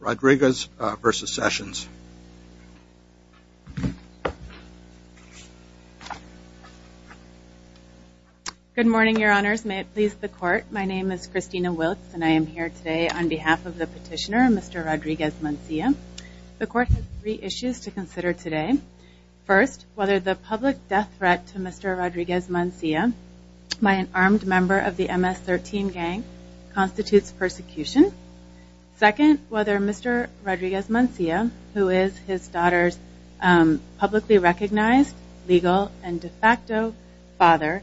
Rodriguez v. Sessions. Good morning, your honors. May it please the court, my name is Christina Wiltz and I am here today on behalf of the petitioner, Mr. Rodriguez-Mancia. The court has three issues to consider today. First, whether the public death threat to Mr. Rodriguez-Mancia by an armed member of Mr. Rodriguez-Mancia, who is his daughter's publicly recognized, legal, and de facto father,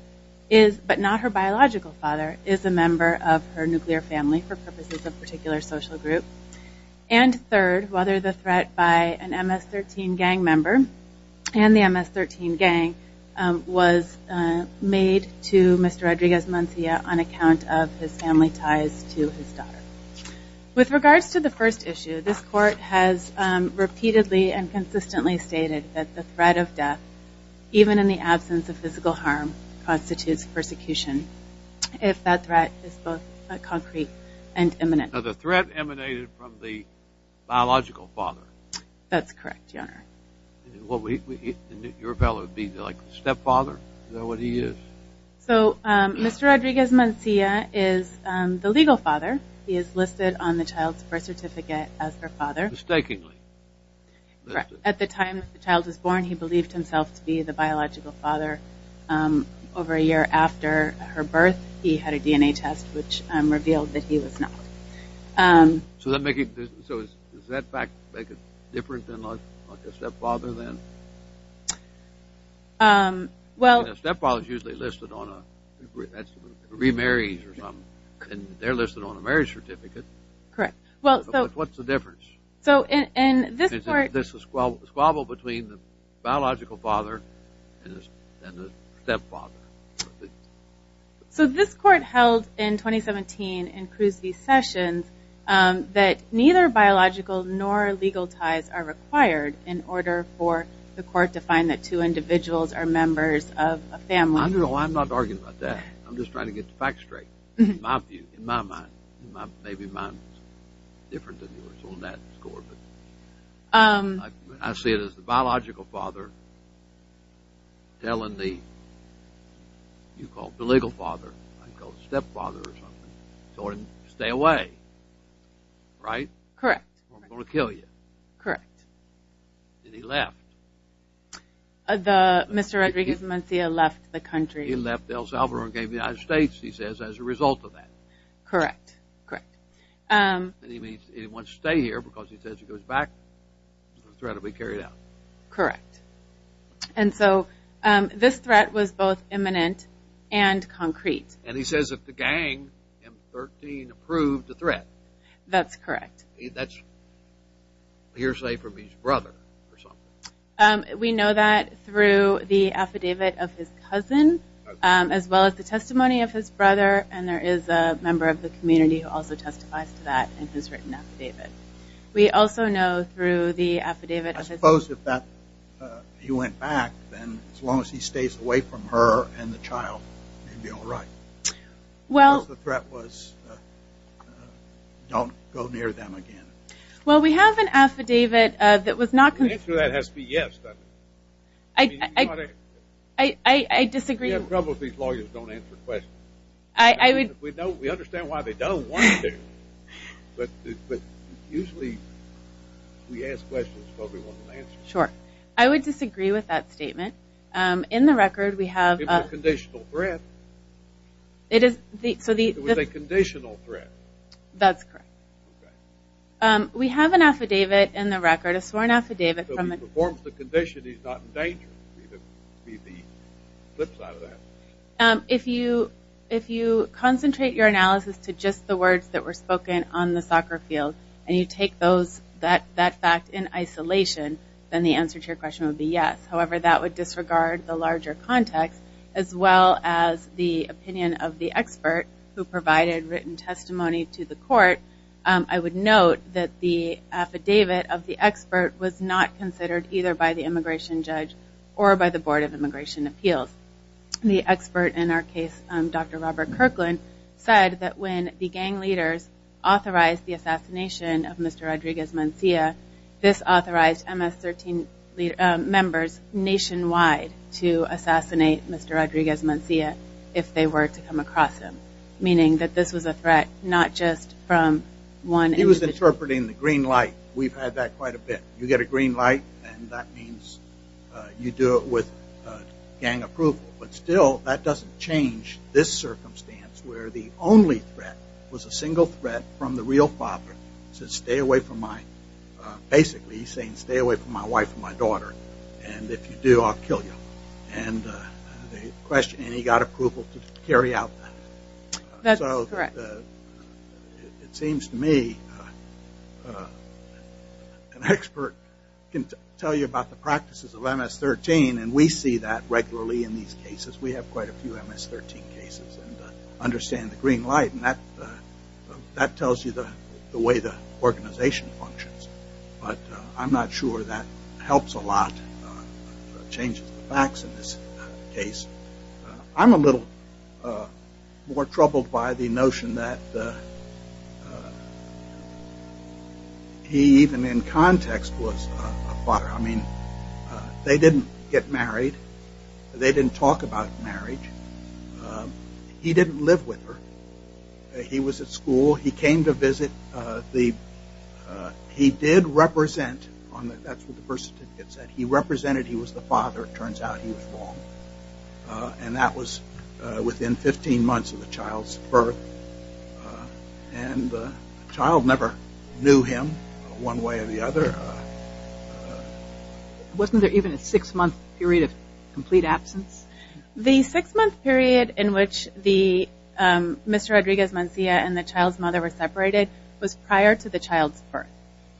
but not her biological father, is a member of her nuclear family for purposes of particular social group. And third, whether the threat by an MS-13 gang member and the MS-13 gang was made to Mr. Rodriguez-Mancia on account of his family ties to his daughter. With regards to the first issue, this court has repeatedly and consistently stated that the threat of death, even in the absence of physical harm, constitutes persecution if that threat is both concrete and imminent. Now, the threat emanated from the biological father. That's correct, your honor. Your fellow would be like the stepfather? Is that what he is? So, Mr. Rodriguez-Mancia is the legal father. He is listed on the child's birth certificate as her father. Mistakingly? At the time the child was born, he believed himself to be the biological father. Over a year after her birth, he had a DNA test which revealed that he was not. So, does that fact make it different than a stepfather then? Well, a stepfather is usually listed on a remarriage or something. They're listed on a marriage certificate. Correct. Well, what's the difference? So, in this court... This is a squabble between the biological father and the stepfather. So, this court held in 2017 in Cruz v. Sessions that neither biological nor legal ties are required in order for the court to find that two individuals are members of a family. No, I'm not arguing about that. I'm just trying to get the facts straight, in my view, in my mind. Maybe mine is different than yours on that score, but I see it as the biological father telling the, you call it the legal father, I call it the stepfather or something, telling him to stay away. Right? Correct. Or I'm going to kill you. Correct. Then he left. Mr. Rodriguez-Mancia left the United States, he says, as a result of that. Correct. Correct. And he wants to stay here because he says if he goes back, the threat will be carried out. Correct. And so, this threat was both imminent and concrete. And he says if the gang, M-13, approved the threat. That's correct. That's hearsay from his brother. We know that through the affidavit of his testimony of his brother, and there is a member of the community who also testifies to that in his written affidavit. We also know through the affidavit of his brother. I suppose if that, he went back, then as long as he stays away from her and the child, he'll be alright. Well. Because the threat was don't go near them again. Well, we have an affidavit that was not I disagree. I would disagree with that statement. In the record, we have a conditional threat. That's correct. We have an affidavit, in the record, a sworn affidavit. So if he performs the condition, he's not in danger. If you concentrate your analysis to just the words that were spoken on the soccer field, and you take that fact in isolation, then the answer to your question would be yes. However, that would disregard the larger context, as well as the opinion of the expert who provided written testimony to the court. I would note that the affidavit of the expert was not considered either by the immigration judge or by the Board of Immigration Appeals. The expert in our case, Dr. Robert Kirkland, said that when the gang leaders authorized the assassination of Mr. Rodriguez-Muncia, this authorized MS-13 members nationwide to assassinate Mr. Rodriguez-Muncia if they were to come across him. Meaning that this was a threat not just from one individual. He was interpreting the green light. We've had that quite a bit. You get a green light, and that means you do it with gang approval. But still, that doesn't change this circumstance where the only threat was a single threat from the real father. So basically, he's saying stay away from my wife and my daughter, and if you do, I'll kill you. And he got approval to carry out that. So it seems to me an expert can tell you about the practices of MS-13, and we see that regularly in these cases. We have quite a few MS-13 cases and understand the green light. And that tells you the way the organization functions. But I'm not sure that helps a lot, changes the facts in this case. I'm a little more troubled by the notion that he even in context was a father. I mean, they didn't get married. They didn't talk about marriage. He didn't live with her. He was at school. He came to visit. He did represent, that's what the birth certificate said, he represented he was the father. Turns out he was wrong. And that was within 15 months of the child's birth. And the child never knew him one way or the other. Wasn't there even a six-month period of complete absence? The six-month period in which Mr. Rodriguez-Mancia and the child's mother were separated was prior to the child's birth.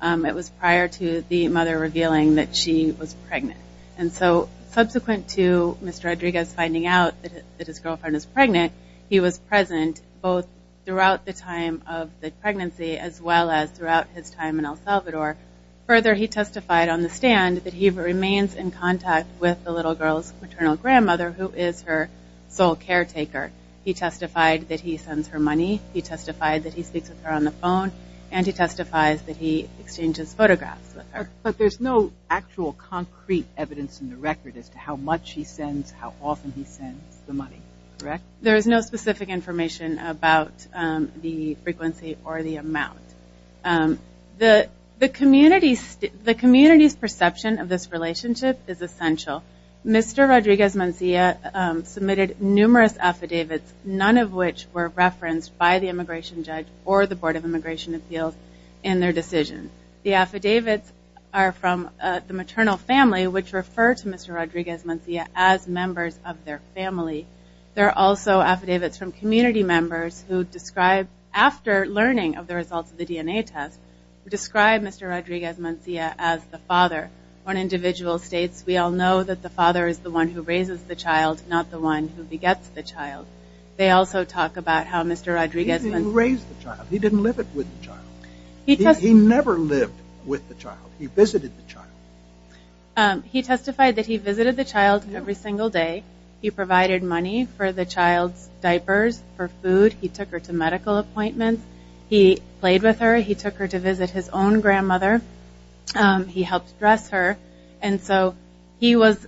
It was prior to the mother revealing that she was pregnant. And so subsequent to Mr. Rodriguez finding out that his girlfriend was pregnant, he was present both throughout the time of the pregnancy as well as throughout his time in El Salvador. Further, he testified on the stand that he remains in contact with the little girl's paternal grandmother who is her sole caretaker. He testified that he sends her money. He testified that he speaks with her on the phone. And he testifies that he exchanges photographs with her. But there's no actual concrete evidence in the record as to how much he sends, how often he sends the money, correct? There is no specific information about the frequency or the amount. The community's perception of this relationship is essential. Mr. Rodriguez-Mancia submitted numerous affidavits, none of which were referenced by the immigration judge or the Board of Immigration Appeals in their decision. The affidavits are from the maternal family, which refer to Mr. Rodriguez-Mancia as members of their family. There are also affidavits from community members who describe, after learning of the results of the DNA test, who describe Mr. Rodriguez-Mancia as the father. One individual states, we all know that the father is the one who raises the child, not the one who begets the child. They also talk about how Mr. Rodriguez-Mancia… He didn't raise the child. He didn't live with the child. He never lived with the child. He visited the child. He testified that he visited the child every single day. He provided money for the child's diapers, for food. He took her to medical appointments. He played with her. He took her to visit his own grandmother. He helped dress her. And so he was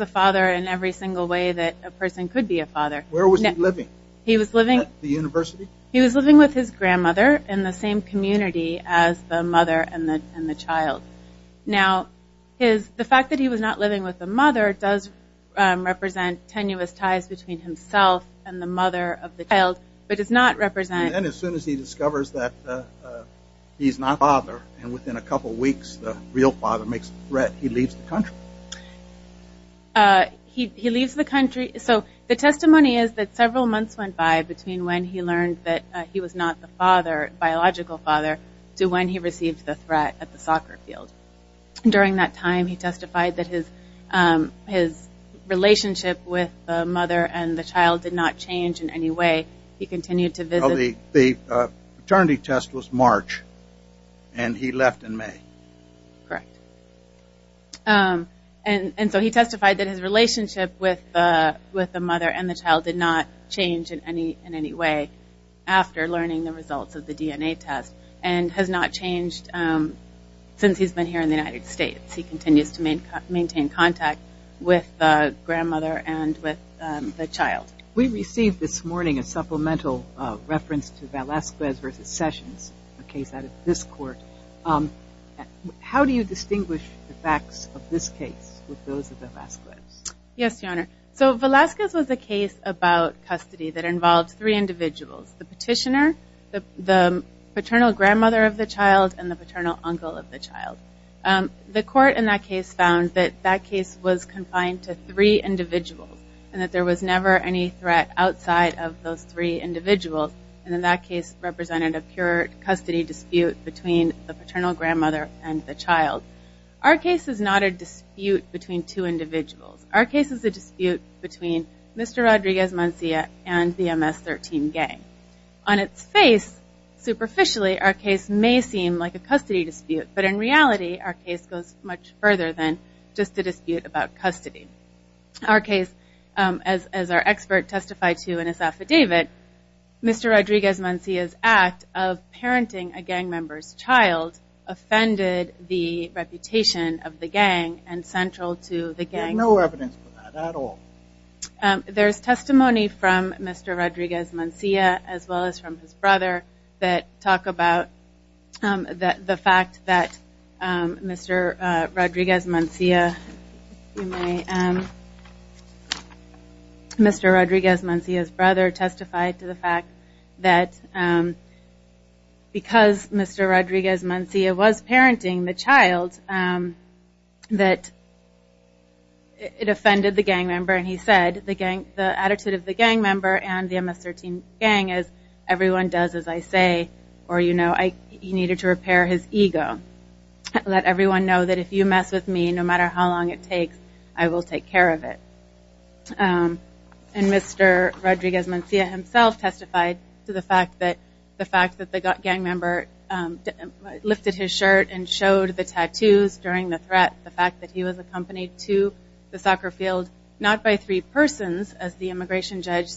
a father in every single way that a person could be a father. Where was he living? At the university? He was living with his grandmother in the same community as the mother and the child. Now, the fact that he was not living with the mother does represent tenuous ties between himself and the mother of the child, but does not represent… The testimony is that several months went by between when he learned that he was not the biological father to when he received the threat at the soccer field. During that time, he testified that his relationship with the mother and the child did not change in any way. He continued to visit… The paternity test was March, and he left in May. Correct. And so he testified that his relationship with the mother and the child did not change in any way after learning the results of the DNA test, and has not changed since he's been here in the United States. He continues to maintain contact with the grandmother and with the child. We received this morning a supplemental reference to Velazquez v. Sessions, a case out of this court. How do you distinguish the facts of this case with those of Velazquez? Yes, Your Honor. So Velazquez was a case about custody that involved three individuals, the petitioner, the paternal grandmother of the child, and the paternal uncle of the child. The court in that case found that that case was confined to three individuals, and that there was never any threat outside of those three individuals. And in that case represented a pure custody dispute between the paternal grandmother and the child. Our case is not a dispute between two individuals. Our case is a dispute between Mr. Rodriguez-Mancilla and the MS-13 gang. On its face, superficially, our case may seem like a custody dispute, but in reality, our case goes much further than just a dispute about custody. Our case, as our expert testified to in his affidavit, Mr. Rodriguez-Mancilla's act of parenting a gang member's child offended the reputation of the gang and central to the gang. There's no evidence for that at all. There's testimony from Mr. Rodriguez-Mancilla, as well as from his brother, that talk about the fact that Mr. Rodriguez-Mancilla's brother testified to the fact that because Mr. Rodriguez-Mancilla was parenting the child, that it offended the gang member, and he said, the attitude of the gang member and the MS-13 gang is, everyone does as I say, or you know, he needed to repair his ego. Let everyone know that if you mess with me, no matter how long it takes, I will take care of it. And Mr. Rodriguez-Mancilla himself testified to the fact that the gang member lifted his shirt and showed the tattoos during the threat. The fact that he was accompanied to the soccer field, not by three persons, as the immigration judge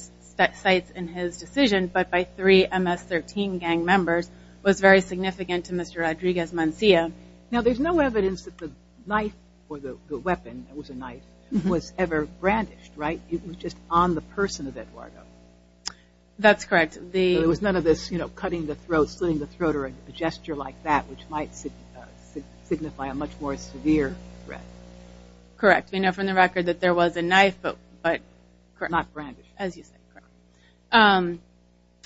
cites in his decision, but by three MS-13 gang members was very significant to Mr. Rodriguez-Mancilla. Now, there's no evidence that the knife or the weapon, it was a knife, was ever brandished, right? It was just on the person of Eduardo. That's correct. There was none of this, you know, cutting the throat, slitting the throat, or a gesture like that, which might signify a much more severe threat. Correct. We know from the record that there was a knife, but not brandished, as you said.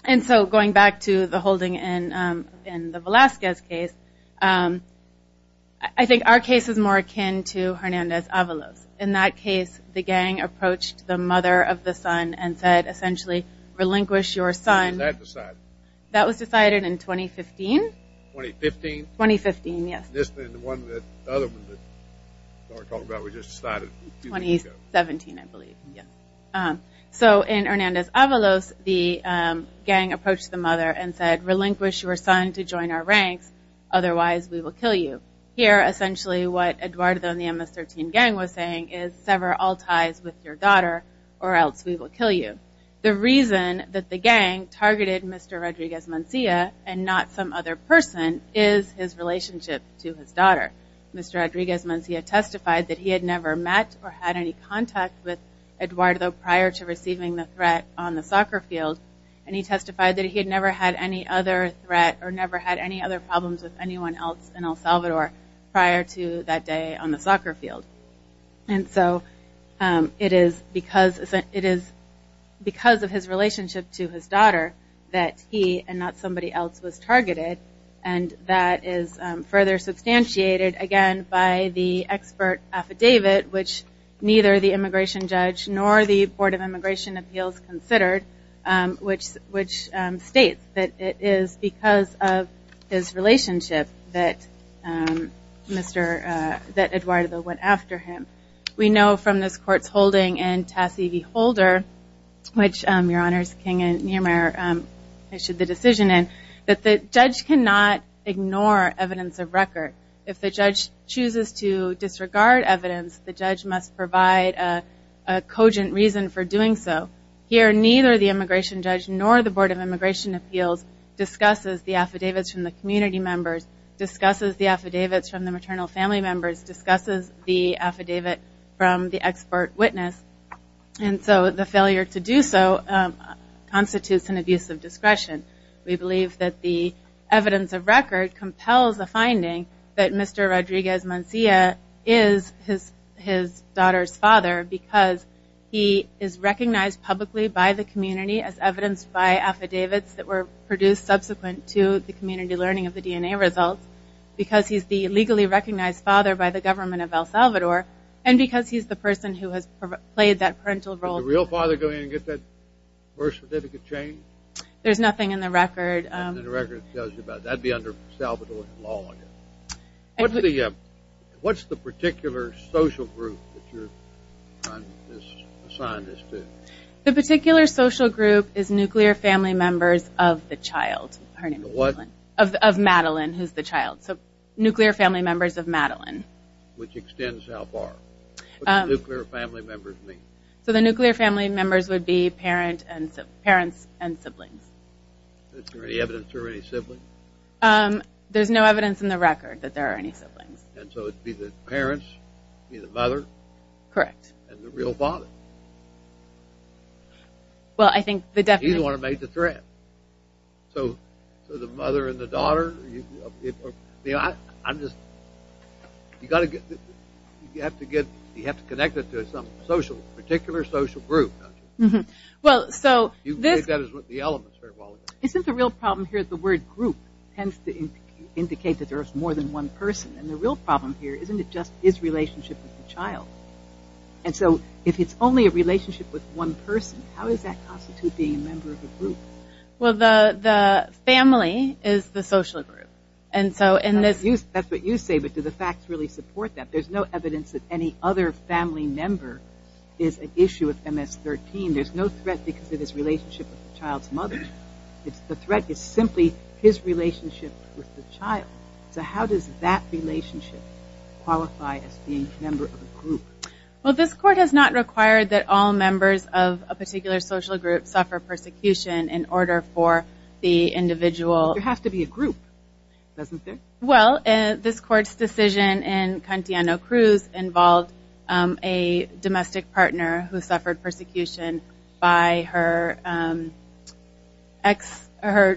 And so, going back to the holding in the Velazquez case, I think our case is more akin to Hernandez-Avalos. In that case, the gang approached the mother of the son and said, essentially, relinquish your son. When was that decided? That was decided in 2015. 2015? 2015, yes. And the other one that we were talking about was just decided a few weeks ago. 2017, I believe, yes. So, in Hernandez-Avalos, the gang approached the mother and said, relinquish your son to join our ranks. Otherwise, we will kill you. Here, essentially, what Eduardo and the MS-13 gang was saying is, sever all ties with your daughter, or else we will kill you. The reason that the gang targeted Mr. Rodriguez-Mancilla and not some other person is his relationship to his daughter. Mr. Rodriguez-Mancilla testified that he had never met or had any contact with Eduardo prior to receiving the threat on the soccer field. And he testified that he had never had any other threat or never had any other problems with anyone else in El Salvador prior to that day on the soccer field. And so, it is because of his relationship to his daughter that he and not somebody else was targeted. And that is further substantiated, again, by the expert affidavit, which neither the immigration judge nor the Board of Immigration Appeals considered, which states that it is because of his relationship that Mr. Eduardo went after him. We know from this court's holding in Tassie v. Holder, which Your Honors King and Niemeyer issued the decision in, that the judge cannot ignore evidence of record. If the judge chooses to disregard evidence, the judge must provide a cogent reason for doing so. Here, neither the immigration judge nor the Board of Immigration Appeals discusses the affidavits from the community members, discusses the affidavits from the maternal family members, discusses the affidavit from the expert witness. And so, the failure to do so constitutes an abuse of discretion. We believe that the evidence of record compels the finding that Mr. Rodriguez-Mancilla is his daughter's father because he is recognized publicly by the community as evidenced by affidavits that were produced subsequent to the community learning of the DNA results, because he's the legally recognized father by the government of El Salvador, and because he's the person who has played that parental role. Was the real father going to get that birth certificate change? There's nothing in the record. Nothing in the record that tells you about it. That would be under El Salvadorian law. What's the particular social group that you're trying to assign this to? The particular social group is nuclear family members of the child. Of what? Of Madeline, who's the child. So, nuclear family members of Madeline. Which extends how far? What do nuclear family members mean? So, the nuclear family members would be parents and siblings. Is there any evidence there were any siblings? There's no evidence in the record that there are any siblings. And so, it would be the parents, be the mother. Correct. And the real father. Well, I think the definition… He's the one who made the threat. So, the mother and the daughter. You have to connect it to a particular social group, don't you? Well, so… You've made that as one of the elements. Isn't the real problem here that the word group tends to indicate that there's more than one person? And the real problem here, isn't it just his relationship with the child? And so, if it's only a relationship with one person, how does that constitute being a member of a group? Well, the family is the social group. That's what you say, but do the facts really support that? There's no evidence that any other family member is an issue of MS-13. There's no threat because of his relationship with the child's mother. The threat is simply his relationship with the child. So, how does that relationship qualify as being a member of a group? Well, this court has not required that all members of a particular social group suffer persecution in order for the individual… There has to be a group, doesn't there? Well, this court's decision in Cantiano-Cruz involved a domestic partner who suffered persecution by her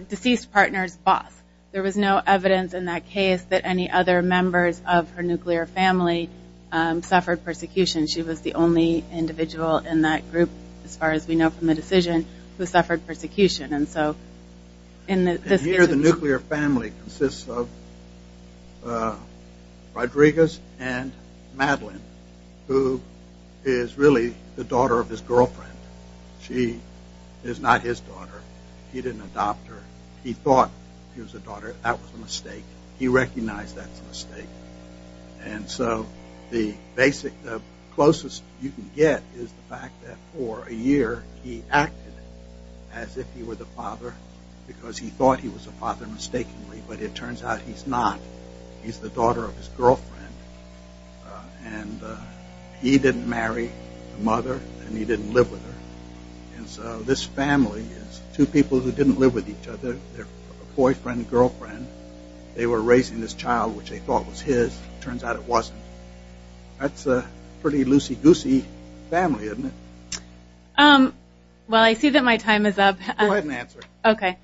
deceased partner's boss. There was no evidence in that case that any other members of her nuclear family suffered persecution. She was the only individual in that group, as far as we know from the decision, who suffered persecution. Here, the nuclear family consists of Rodriguez and Madeline, who is really the daughter of his girlfriend. She is not his daughter. He didn't adopt her. He thought she was a daughter. He recognized that's a mistake. And so, the closest you can get is the fact that for a year, he acted as if he were the father because he thought he was the father mistakenly, but it turns out he's not. He's the daughter of his girlfriend, and he didn't marry the mother, and he didn't live with her. And so, this family is two people who didn't live with each other. They're boyfriend and girlfriend. They were raising this child, which they thought was his. It turns out it wasn't. That's a pretty loosey-goosey family, isn't it? Well, I see that my time is up. Go ahead and answer. Okay.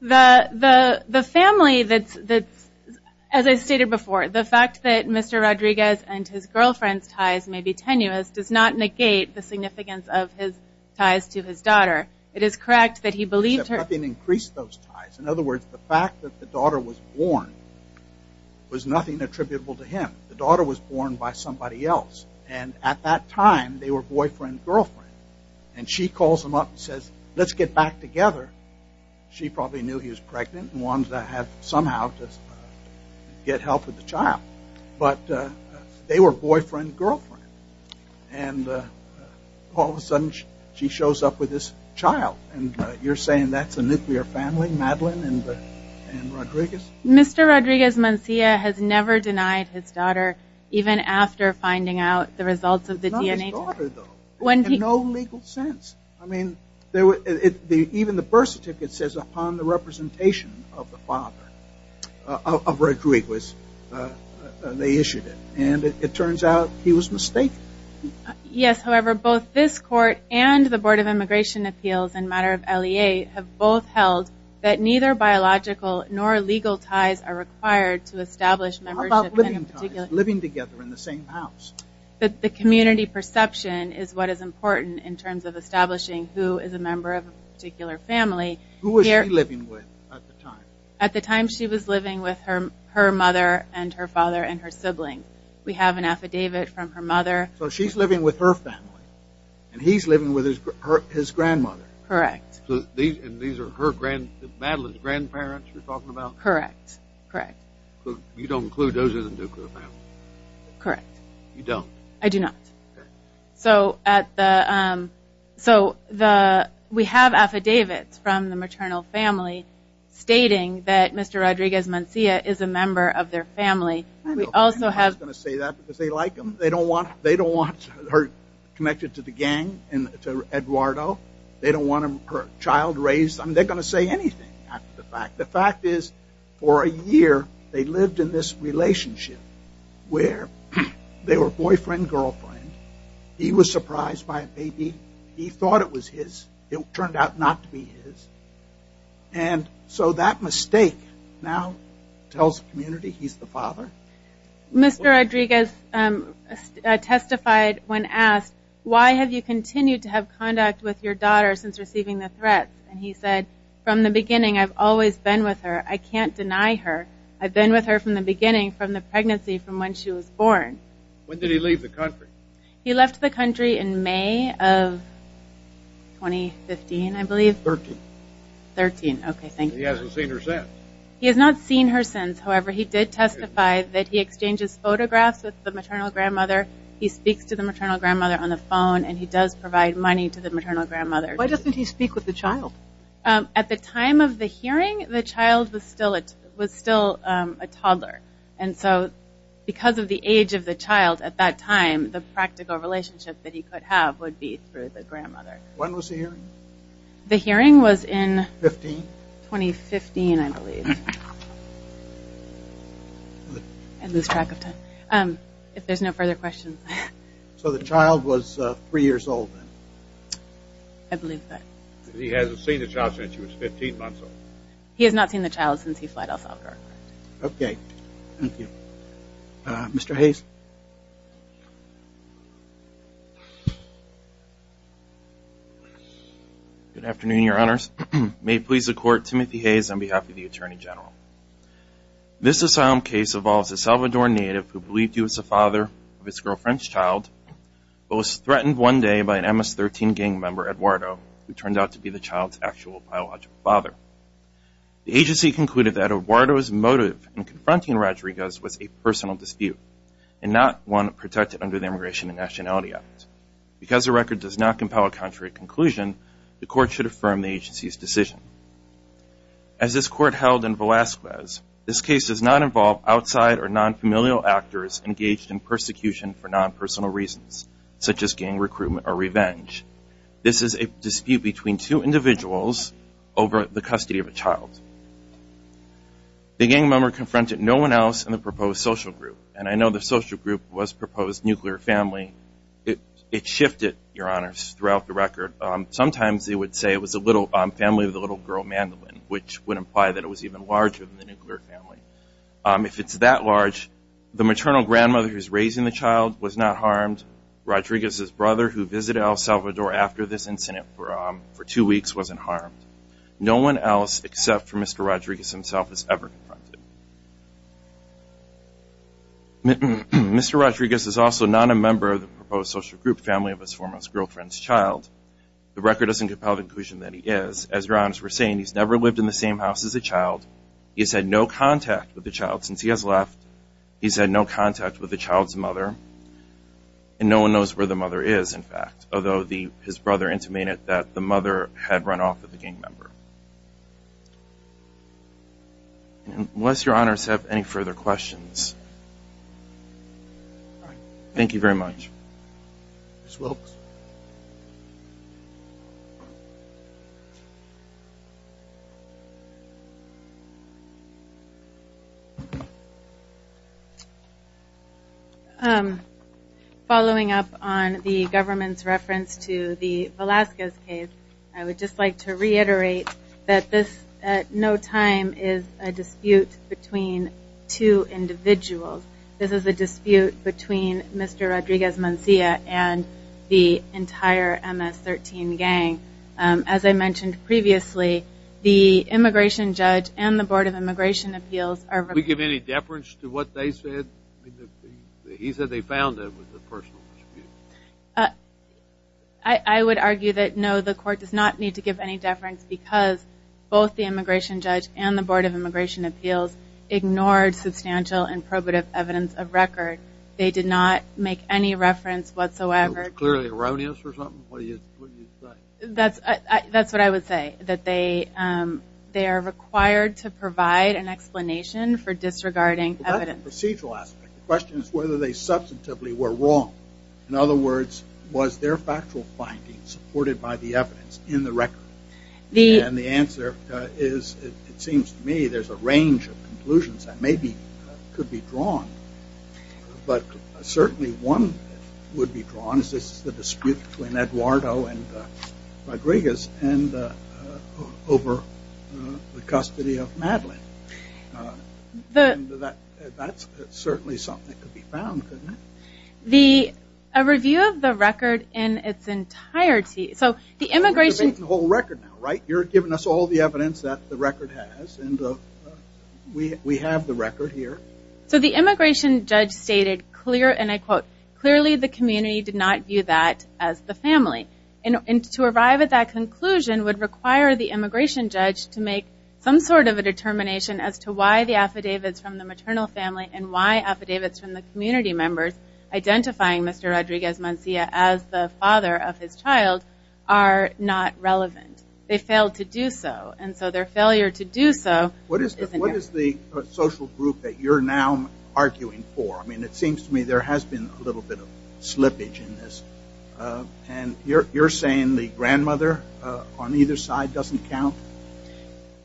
The family that's, as I stated before, the fact that Mr. Rodriguez and his girlfriend's ties may be tenuous does not negate the significance of his ties to his daughter. It is correct that he believed her. Except nothing increased those ties. In other words, the fact that the daughter was born was nothing attributable to him. The daughter was born by somebody else. And at that time, they were boyfriend and girlfriend. And she calls him up and says, let's get back together. She probably knew he was pregnant and wanted to somehow get help with the child. But they were boyfriend and girlfriend. And all of a sudden, she shows up with this child. And you're saying that's a nuclear family, Madeline and Rodriguez? Mr. Rodriguez-Mancilla has never denied his daughter, even after finding out the results of the DNA test. Not his daughter, though. In no legal sense. I mean, even the birth certificate says, upon the representation of the father, of Rodriguez, they issued it. And it turns out he was mistaken. Yes, however, both this court and the Board of Immigration Appeals in matter of LEA have both held that neither biological nor legal ties are required to establish membership. How about living ties, living together in the same house? The community perception is what is important in terms of establishing who is a member of a particular family. Who was she living with at the time? At the time, she was living with her mother and her father and her siblings. We have an affidavit from her mother. So she's living with her family. And he's living with his grandmother. Correct. And these are Madeline's grandparents you're talking about? Correct. You don't include those in the nuclear family? Correct. You don't? I do not. So we have affidavits from the maternal family stating that Mr. Rodriguez-Mancilla is a member of their family. I'm not going to say that because they like him. They don't want her connected to the gang and to Eduardo. They don't want her child raised. They're going to say anything after the fact. The fact is for a year they lived in this relationship where they were boyfriend-girlfriend. He was surprised by a baby. He thought it was his. It turned out not to be his. And so that mistake now tells the community he's the father. Mr. Rodriguez testified when asked, why have you continued to have conduct with your daughter since receiving the threats? And he said, from the beginning I've always been with her. I can't deny her. I've been with her from the beginning, from the pregnancy, from when she was born. When did he leave the country? He left the country in May of 2015, I believe. 13. 13, okay, thank you. He hasn't seen her since. He has not seen her since. However, he did testify that he exchanges photographs with the maternal grandmother. He speaks to the maternal grandmother on the phone, and he does provide money to the maternal grandmother. Why doesn't he speak with the child? At the time of the hearing, the child was still a toddler. And so because of the age of the child at that time, the practical relationship that he could have would be through the grandmother. When was the hearing? The hearing was in 2015, I believe. I lose track of time. If there's no further questions. So the child was three years old then? I believe that. He hasn't seen the child since she was 15 months old. He has not seen the child since he fled El Salvador. Okay, thank you. Mr. Hayes? Good afternoon, Your Honors. May it please the Court, Timothy Hayes on behalf of the Attorney General. This asylum case involves a Salvador native who believed he was the father of his girlfriend's child, but was threatened one day by an MS-13 gang member, Eduardo, who turned out to be the child's actual biological father. The agency concluded that Eduardo's motive in confronting Rodriguez was a personal dispute and not one protected under the Immigration and Nationality Act. Because the record does not compel a contrary conclusion, the Court should affirm the agency's decision. As this Court held in Velazquez, this case does not involve outside or non-familial actors engaged in persecution for non-personal reasons, such as gang recruitment or revenge. This is a dispute between two individuals over the custody of a child. The gang member confronted no one else in the proposed social group, and I know the social group was proposed nuclear family. It shifted, Your Honors, throughout the record. Sometimes they would say it was a little family with a little girl, Mandolin, which would imply that it was even larger than the nuclear family. If it's that large, the maternal grandmother who's raising the child was not harmed. Rodriguez's brother, who visited El Salvador after this incident for two weeks, wasn't harmed. No one else except for Mr. Rodriguez himself was ever confronted. Mr. Rodriguez is also not a member of the proposed social group family of his former girlfriend's child. The record doesn't compel the conclusion that he is. As Your Honors were saying, he's never lived in the same house as a child. He's had no contact with the child since he has left. He's had no contact with the child's mother. And no one knows where the mother is, in fact, although his brother intimated that the mother had run off with the gang member. Unless Your Honors have any further questions. Thank you very much. Ms. Wilkes. Following up on the government's reference to the Velasquez case, I would just like to reiterate that this, at no time, is a dispute between two individuals. This is a dispute between Mr. Rodriguez-Muncia and the entire MS-13 gang. As I mentioned previously, the immigration judge and the Board of Immigration Appeals are... Did we give any deference to what they said? He said they found it was a personal dispute. I would argue that no, the court does not need to give any deference because both the immigration judge and the Board of Immigration Appeals ignored substantial and probative evidence of record. They did not make any reference whatsoever. It was clearly erroneous or something? That's what I would say, that they are required to provide an explanation for disregarding evidence. That's the procedural aspect. The question is whether they substantively were wrong. In other words, was their factual findings supported by the evidence in the record? And the answer is, it seems to me, there's a range of conclusions that maybe could be drawn, but certainly one would be drawn, and this is the dispute between Eduardo and Rodriguez over the custody of Madeline. That's certainly something that could be found, couldn't it? A review of the record in its entirety... You're debating the whole record now, right? You're giving us all the evidence that the record has, and we have the record here. So the immigration judge stated, and I quote, clearly the community did not view that as the family. And to arrive at that conclusion would require the immigration judge to make some sort of a determination as to why the affidavits from the maternal family and why affidavits from the community members identifying Mr. Rodriguez-Mancilla as the father of his child are not relevant. They failed to do so, and so their failure to do so... What is the social group that you're now arguing for? It seems to me there has been a little bit of slippage in this, and you're saying the grandmother on either side doesn't count?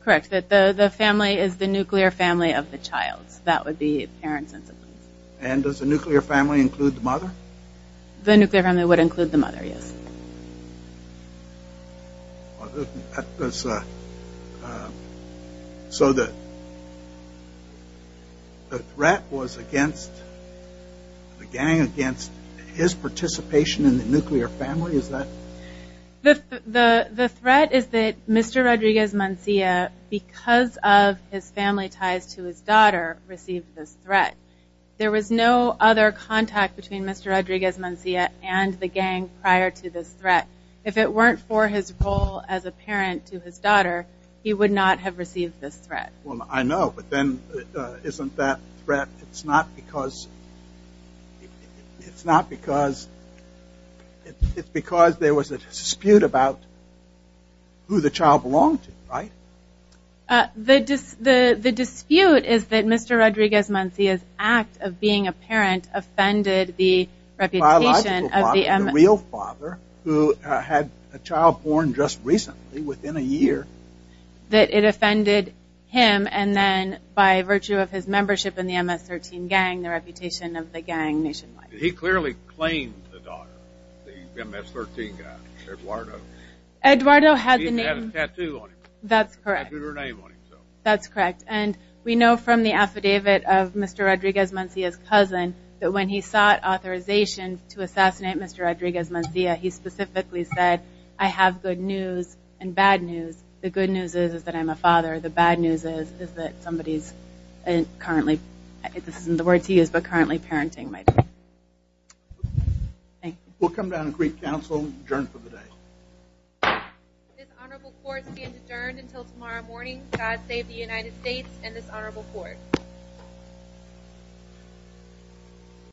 Correct. The family is the nuclear family of the child. That would be apparent. And does the nuclear family include the mother? The nuclear family would include the mother, yes. So the threat was against the gang, against his participation in the nuclear family? The threat is that Mr. Rodriguez-Mancilla, because of his family ties to his daughter, received this threat. There was no other contact between Mr. Rodriguez-Mancilla and the gang prior to this threat. If it weren't for his role as a parent to his daughter, he would not have received this threat. Well, I know, but then isn't that threat... It's not because... It's not because... It's because there was a dispute about who the child belonged to, right? The dispute is that Mr. Rodriguez-Mancilla's act of being a parent offended the reputation of the real father, who had a child born just recently, within a year. That it offended him and then, by virtue of his membership in the MS-13 gang, the reputation of the gang nationwide. He clearly claimed the daughter, the MS-13 guy, Eduardo. Eduardo had the name... He had a tattoo on him. That's correct. And we know from the affidavit of Mr. Rodriguez-Mancilla's cousin that when he sought authorization to assassinate Mr. Rodriguez-Mancilla, he specifically said, I have good news and bad news. The good news is that I'm a father. The bad news is that somebody's currently... This isn't the word to use, but currently parenting my daughter. We'll come down and brief counsel. Adjourned for the day. This honorable court is adjourned until tomorrow morning. God save the United States and this honorable court.